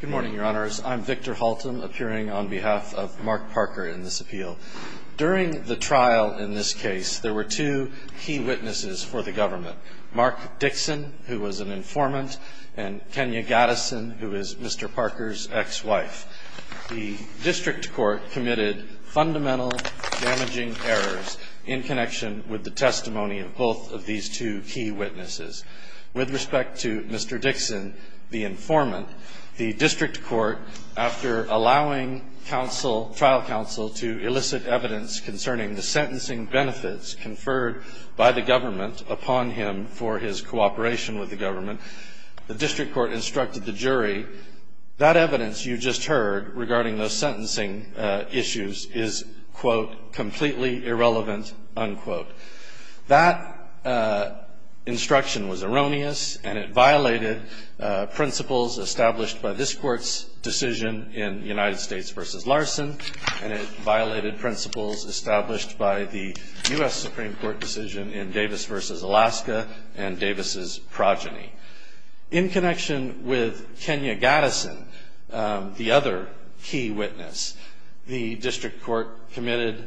Good morning, your honors. I'm Victor Haltom, appearing on behalf of Mark Parker in this appeal. During the trial in this case, there were two key witnesses for the government, Mark Dixon, who was an informant, and Kenya Gattison, who is Mr. Parker's ex-wife. The district court committed fundamental damaging errors in connection with the testimony of both of these two key witnesses. With respect to Mr. Dixon, the informant, the two key witnesses, I would like to ask Mr. Haltom to come to the podium and give us an overview of the case. The district court, after allowing trial counsel to elicit evidence concerning the sentencing benefits conferred by the government upon him for his cooperation with the government, the district court instructed the jury, that evidence you just heard regarding those sentencing issues is, quote, completely irrelevant, unquote. That instruction was erroneous, and it violated principles established by this court's decision in United States v. Larson, and it violated principles established by the U.S. Supreme Court decision in Davis v. Alaska and Davis' progeny. In connection with Kenya Gattison, the other key witness, the district court committed,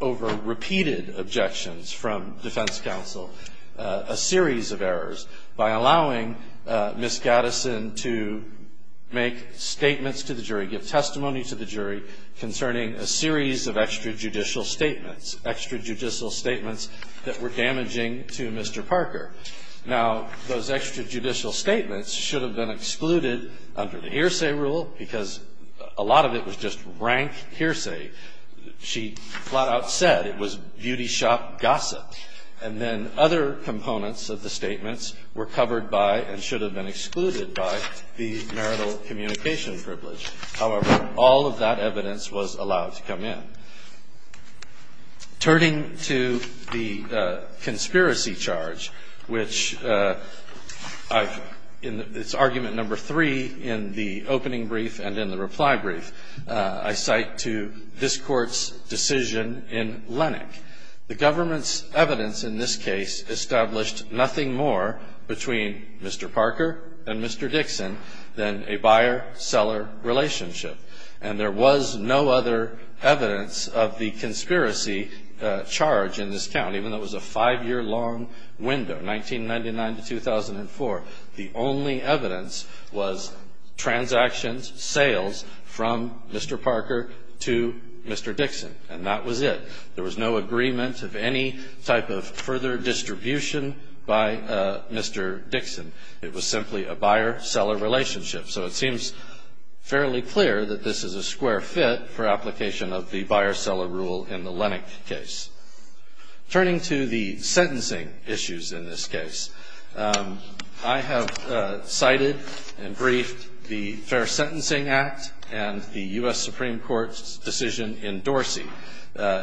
over repeated objections from defense counsel, a series of errors by allowing Ms. Gattison to make statements to the jury, give testimony to the jury, concerning a series of extrajudicial statements, extrajudicial statements that were damaging to Mr. Parker. Now, those extrajudicial statements should have been excluded under the hearsay rule, because a lot of it was just rank hearsay. She flat-out said it was beauty shop gossip. And then other components of the statements were covered by and should have been excluded by the marital communication privilege. However, all of that evidence was allowed to come in. Turning to the conspiracy charge, which I've, in its argument number three in the opening brief and in the reply brief, I cite to this court's decision in Lennox. The government's evidence in this case established nothing more between Mr. Parker and Mr. Dixon than a buyer-seller relationship. And there was no other evidence of the conspiracy charge in this count, even though it was a five-year-long window, 1999 to 2004. The only evidence was transactions, sales from Mr. Parker to Mr. Dixon. And that was it. There was no agreement of any type of further distribution by Mr. Dixon. It was simply a buyer-seller relationship. So it seems fairly clear that this is a square fit for application of the buyer-seller rule in the Lennox case. Turning to the sentencing issues in this case, I have cited and briefed the Fair Sentencing Act and the U.S. Supreme Court's decision in Dorsey.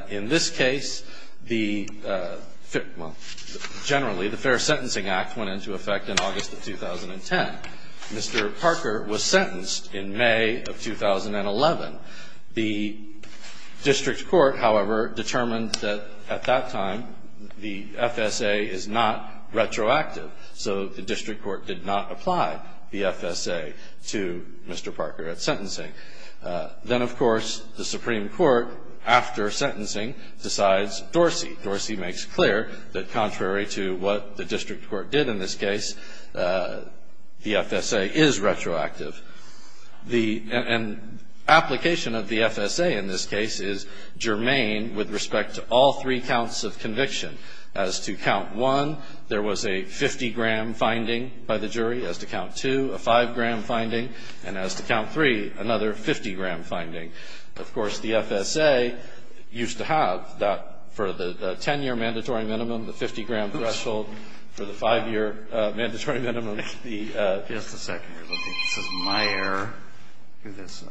In this case, the, well, generally, the Fair Sentencing Act went into effect in August of 2010. Mr. Parker was sentenced in May of 2011. The district court, however, determined that at that time the FSA is not retroactive. So the district court did not apply the FSA to Mr. Parker at sentencing. Then, of course, the Supreme Court, after sentencing, decides Dorsey. Dorsey makes clear that contrary to what the district court did in this case, the FSA is retroactive. The application of the FSA in this case is germane with respect to all three counts of conviction. As to count one, there was a 50-gram finding by the jury. As to count two, a 5-gram finding. And as to count three, another 50-gram finding. Of course, the FSA used to have that for the 10-year mandatory minimum, the 50-gram threshold. For the 5-year mandatory minimum, the ---- My error is this.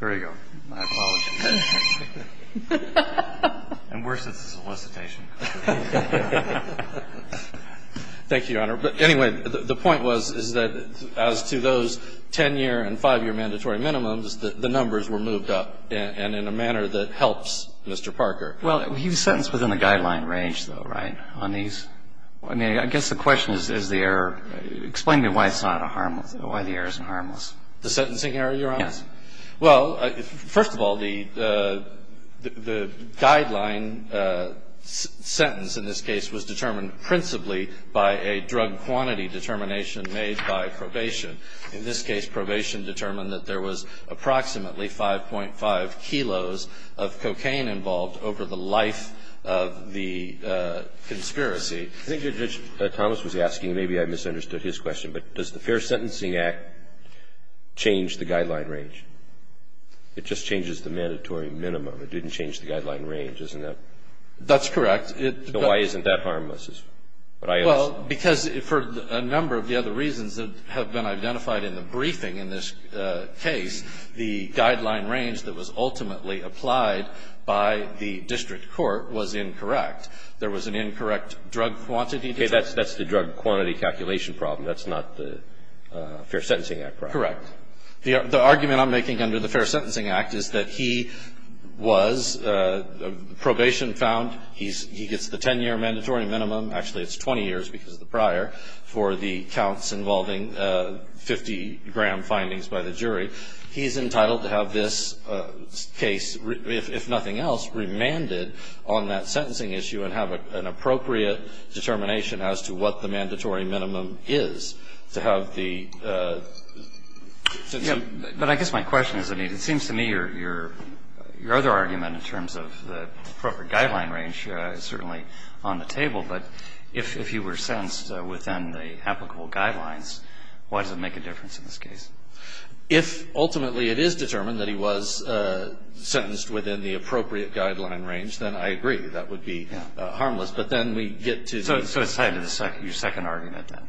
There you go. My apologies. And worse is the solicitation. Thank you, Your Honor. But anyway, the point was, is that as to those 10-year and 5-year mandatory minimums, the numbers were moved up, and in a manner that helps Mr. Parker. Well, he was sentenced within the guideline range, though, right, on these? I mean, I guess the question is, is the error ---- Explain to me why it's not a harmless ---- why the error isn't harmless. The sentencing error, Your Honor? Yes. Well, first of all, the guideline sentence in this case was determined principally by a drug quantity determination made by probation. In this case, probation determined that there was approximately 5.5 kilos of cocaine involved over the life of the conspiracy. I think your judge, Thomas, was asking, maybe I misunderstood his question, but does the Fair Sentencing Act change the guideline range? It just changes the mandatory minimum. It didn't change the guideline range, isn't that ---- That's correct. Why isn't that harmless is what I asked. Well, because for a number of the other reasons that have been identified in the briefing in this case, the guideline range that was ultimately applied by the district court was incorrect. There was an incorrect drug quantity determination. Okay. That's the drug quantity calculation problem. That's not the Fair Sentencing Act, right? Correct. The argument I'm making under the Fair Sentencing Act is that he was probation found. He gets the 10-year mandatory minimum. Actually, it's 20 years because of the prior for the counts involving 50-gram findings by the jury. He's entitled to have this case, if nothing else, remanded on that sentencing issue and have an appropriate determination as to what the mandatory minimum is to have the ---- But I guess my question is, it seems to me your other argument in terms of the appropriate guideline range is certainly on the table. But if he were sentenced within the applicable guidelines, why does it make a difference in this case? If ultimately it is determined that he was sentenced within the appropriate guideline range, then I agree that would be harmless. But then we get to the ---- So it's tied to your second argument, then.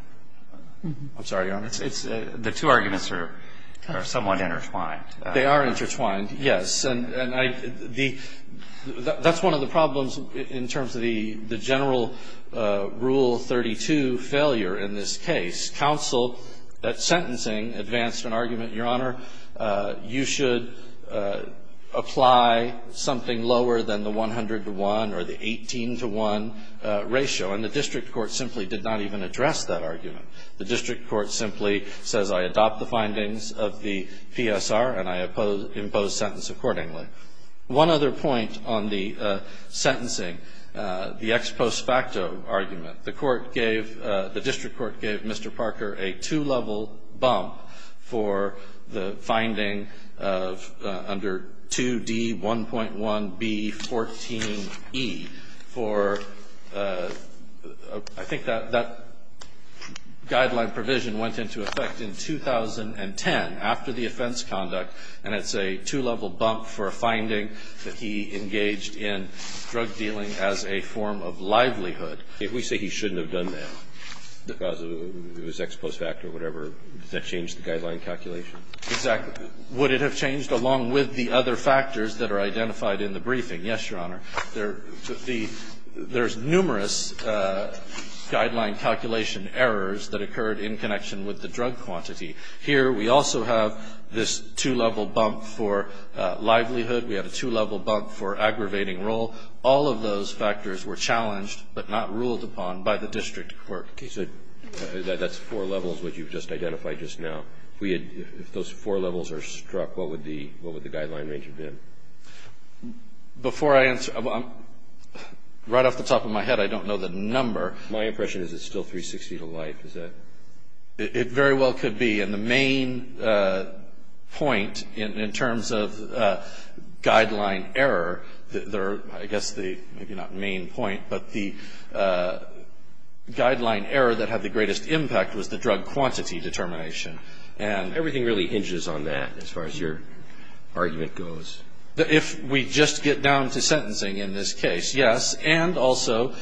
I'm sorry, Your Honor. The two arguments are somewhat intertwined. They are intertwined, yes. And I ---- That's one of the problems in terms of the general Rule 32 failure in this case. Counsel at sentencing advanced an argument, Your Honor, you should apply something lower than the 100 to 1 or the 18 to 1 ratio. And the district court simply did not even address that argument. The district court simply says I adopt the findings of the PSR and I impose sentence accordingly. One other point on the sentencing, the ex post facto argument. The court gave, the district court gave Mr. Parker a two-level bump for the finding of under 2D1.1B14E for ---- I think that guideline provision went into effect in 2010 after the offense conduct. And it's a two-level bump for a finding that he engaged in drug dealing as a form of livelihood. We say he shouldn't have done that because it was ex post facto or whatever. Does that change the guideline calculation? Exactly. Would it have changed along with the other factors that are identified in the briefing? Yes, Your Honor. There's numerous guideline calculation errors that occurred in connection with the drug quantity. Here we also have this two-level bump for livelihood. We have a two-level bump for aggravating role. All of those factors were challenged but not ruled upon by the district court. Okay. So that's four levels which you've just identified just now. If we had, if those four levels are struck, what would the guideline range have been? Before I answer, right off the top of my head I don't know the number. My impression is it's still 360 to life. Is that? It very well could be. And the main point in terms of guideline error, I guess the, maybe not main point, but the guideline error that had the greatest impact was the drug quantity determination. And everything really hinges on that as far as your argument goes. If we just get down to sentencing in this case, yes. And also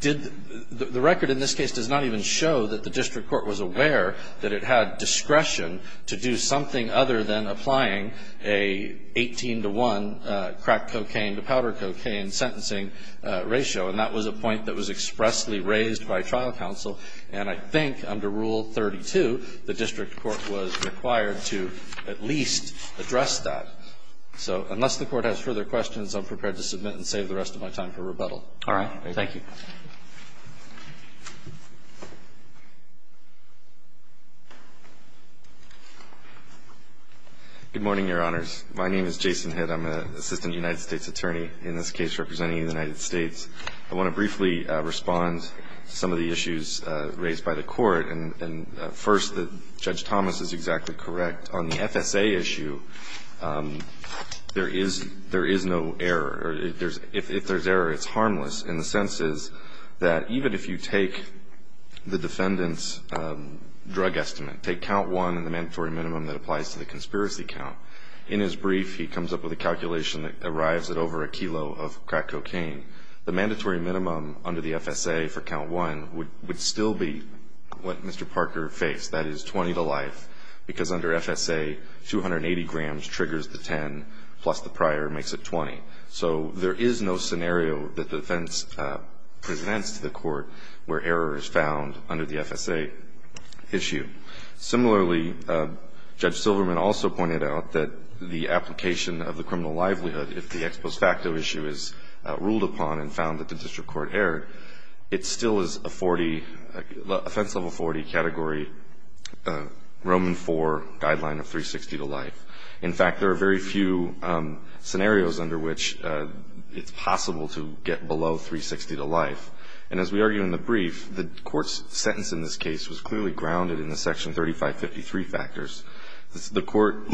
did the record in this case does not even show that the district court was aware that it had discretion to do something other than applying a 18 to 1 crack cocaine to powder cocaine sentencing ratio. And that was a point that was expressly raised by trial counsel. And I think under Rule 32, the district court was required to at least address that. So unless the court has further questions, I'm prepared to submit and save the rest of my time for rebuttal. All right. Thank you. Good morning, Your Honors. My name is Jason Hitt. I'm an assistant United States attorney, in this case representing the United States. I want to briefly respond to some of the issues raised by the Court. And first, Judge Thomas is exactly correct. On the FSA issue, there is no error. If there's error, it's harmless. And the sense is that even if you take the defendant's drug estimate, take count one and the mandatory minimum that applies to the conspiracy count, in his brief he comes up with a calculation that arrives at over a kilo of crack cocaine. The mandatory minimum under the FSA for count one would still be what Mr. Parker faced. That is 20 to life. Because under FSA, 280 grams triggers the 10, plus the prior makes it 20. So there is no scenario that the defense presents to the Court where error is found under the FSA issue. Similarly, Judge Silverman also pointed out that the application of the criminal livelihood, if the ex post facto issue is ruled upon and found that the district court erred, it still is a 40, offense level 40 category Roman IV guideline of 360 to life. In fact, there are very few scenarios under which it's possible to get below 360 to life. And as we argue in the brief, the Court's sentence in this case was clearly grounded in the Section 3553 factors. The Court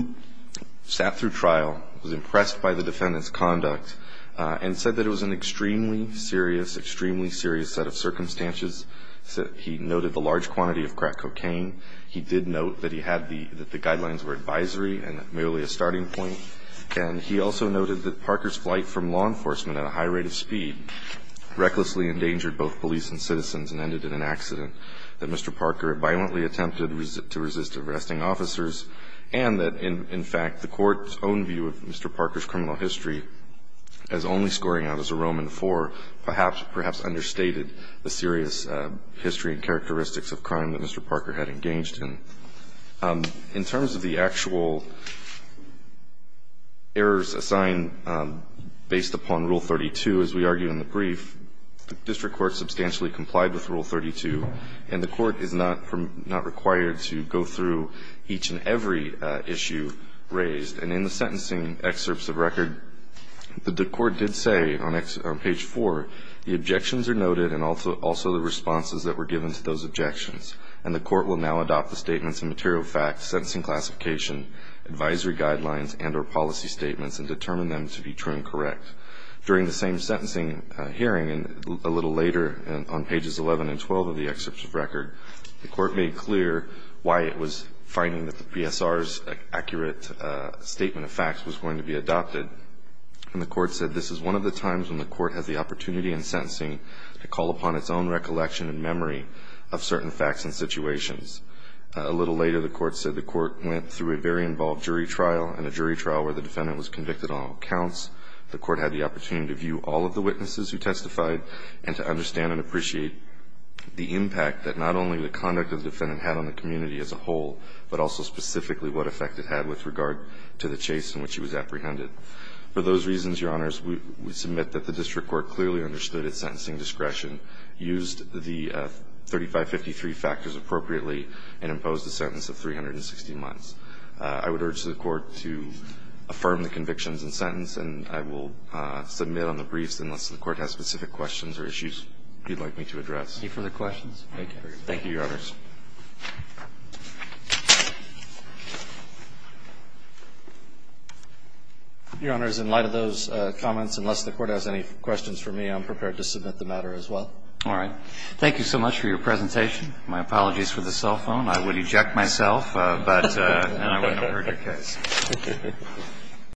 sat through trial, was impressed by the defendant's conduct, and said that it was an extremely serious, extremely serious set of circumstances. He noted the large quantity of crack cocaine. He did note that he had the guidelines were advisory and merely a starting point. And he also noted that Parker's flight from law enforcement at a high rate of speed recklessly endangered both police and citizens and ended in an accident, that Mr. Parker violently attempted to resist arresting officers, and that, in fact, the Court's own view of Mr. Parker's criminal history as only scoring out as a Roman IV perhaps understated the serious history and characteristics of crime that Mr. Parker had engaged in. In terms of the actual errors assigned based upon Rule 32, as we argue in the brief, the district court substantially complied with Rule 32, and the Court is not required to go through each and every issue raised. And in the sentencing excerpts of record, the court did say on page 4, the objections are noted and also the responses that were given to those objections, and the Court will now adopt the statements and material facts, sentencing classification, advisory guidelines, and or policy statements and determine them to be true and correct. During the same sentencing hearing a little later on pages 11 and 12 of the excerpts of record, the Court made clear why it was finding that the PSR's accurate statement of facts was going to be adopted, and the Court said this is one of the times when the Court has the opportunity in sentencing to call upon its own recollection and memory of certain facts and situations. A little later, the Court said the Court went through a very involved jury trial, and a jury trial where the defendant was convicted on all counts. The Court had the opportunity to view all of the witnesses who testified and to understand and appreciate the impact that not only the conduct of the defendant had on the community as a whole, but also specifically what effect it had with regard to the chase in which he was apprehended. For those reasons, Your Honors, we submit that the district court clearly understood its sentencing discretion, used the 3553 factors appropriately, and imposed a sentence of 360 months. I would urge the Court to affirm the convictions and sentence, and I will submit on the briefs unless the Court has specific questions or issues you'd like me to address. Any further questions? Thank you, Your Honors. Your Honors, in light of those comments, unless the Court has any questions for me, I'm prepared to submit the matter as well. All right. Thank you so much for your presentation. My apologies for the cell phone. I would eject myself, and I wouldn't have heard your case.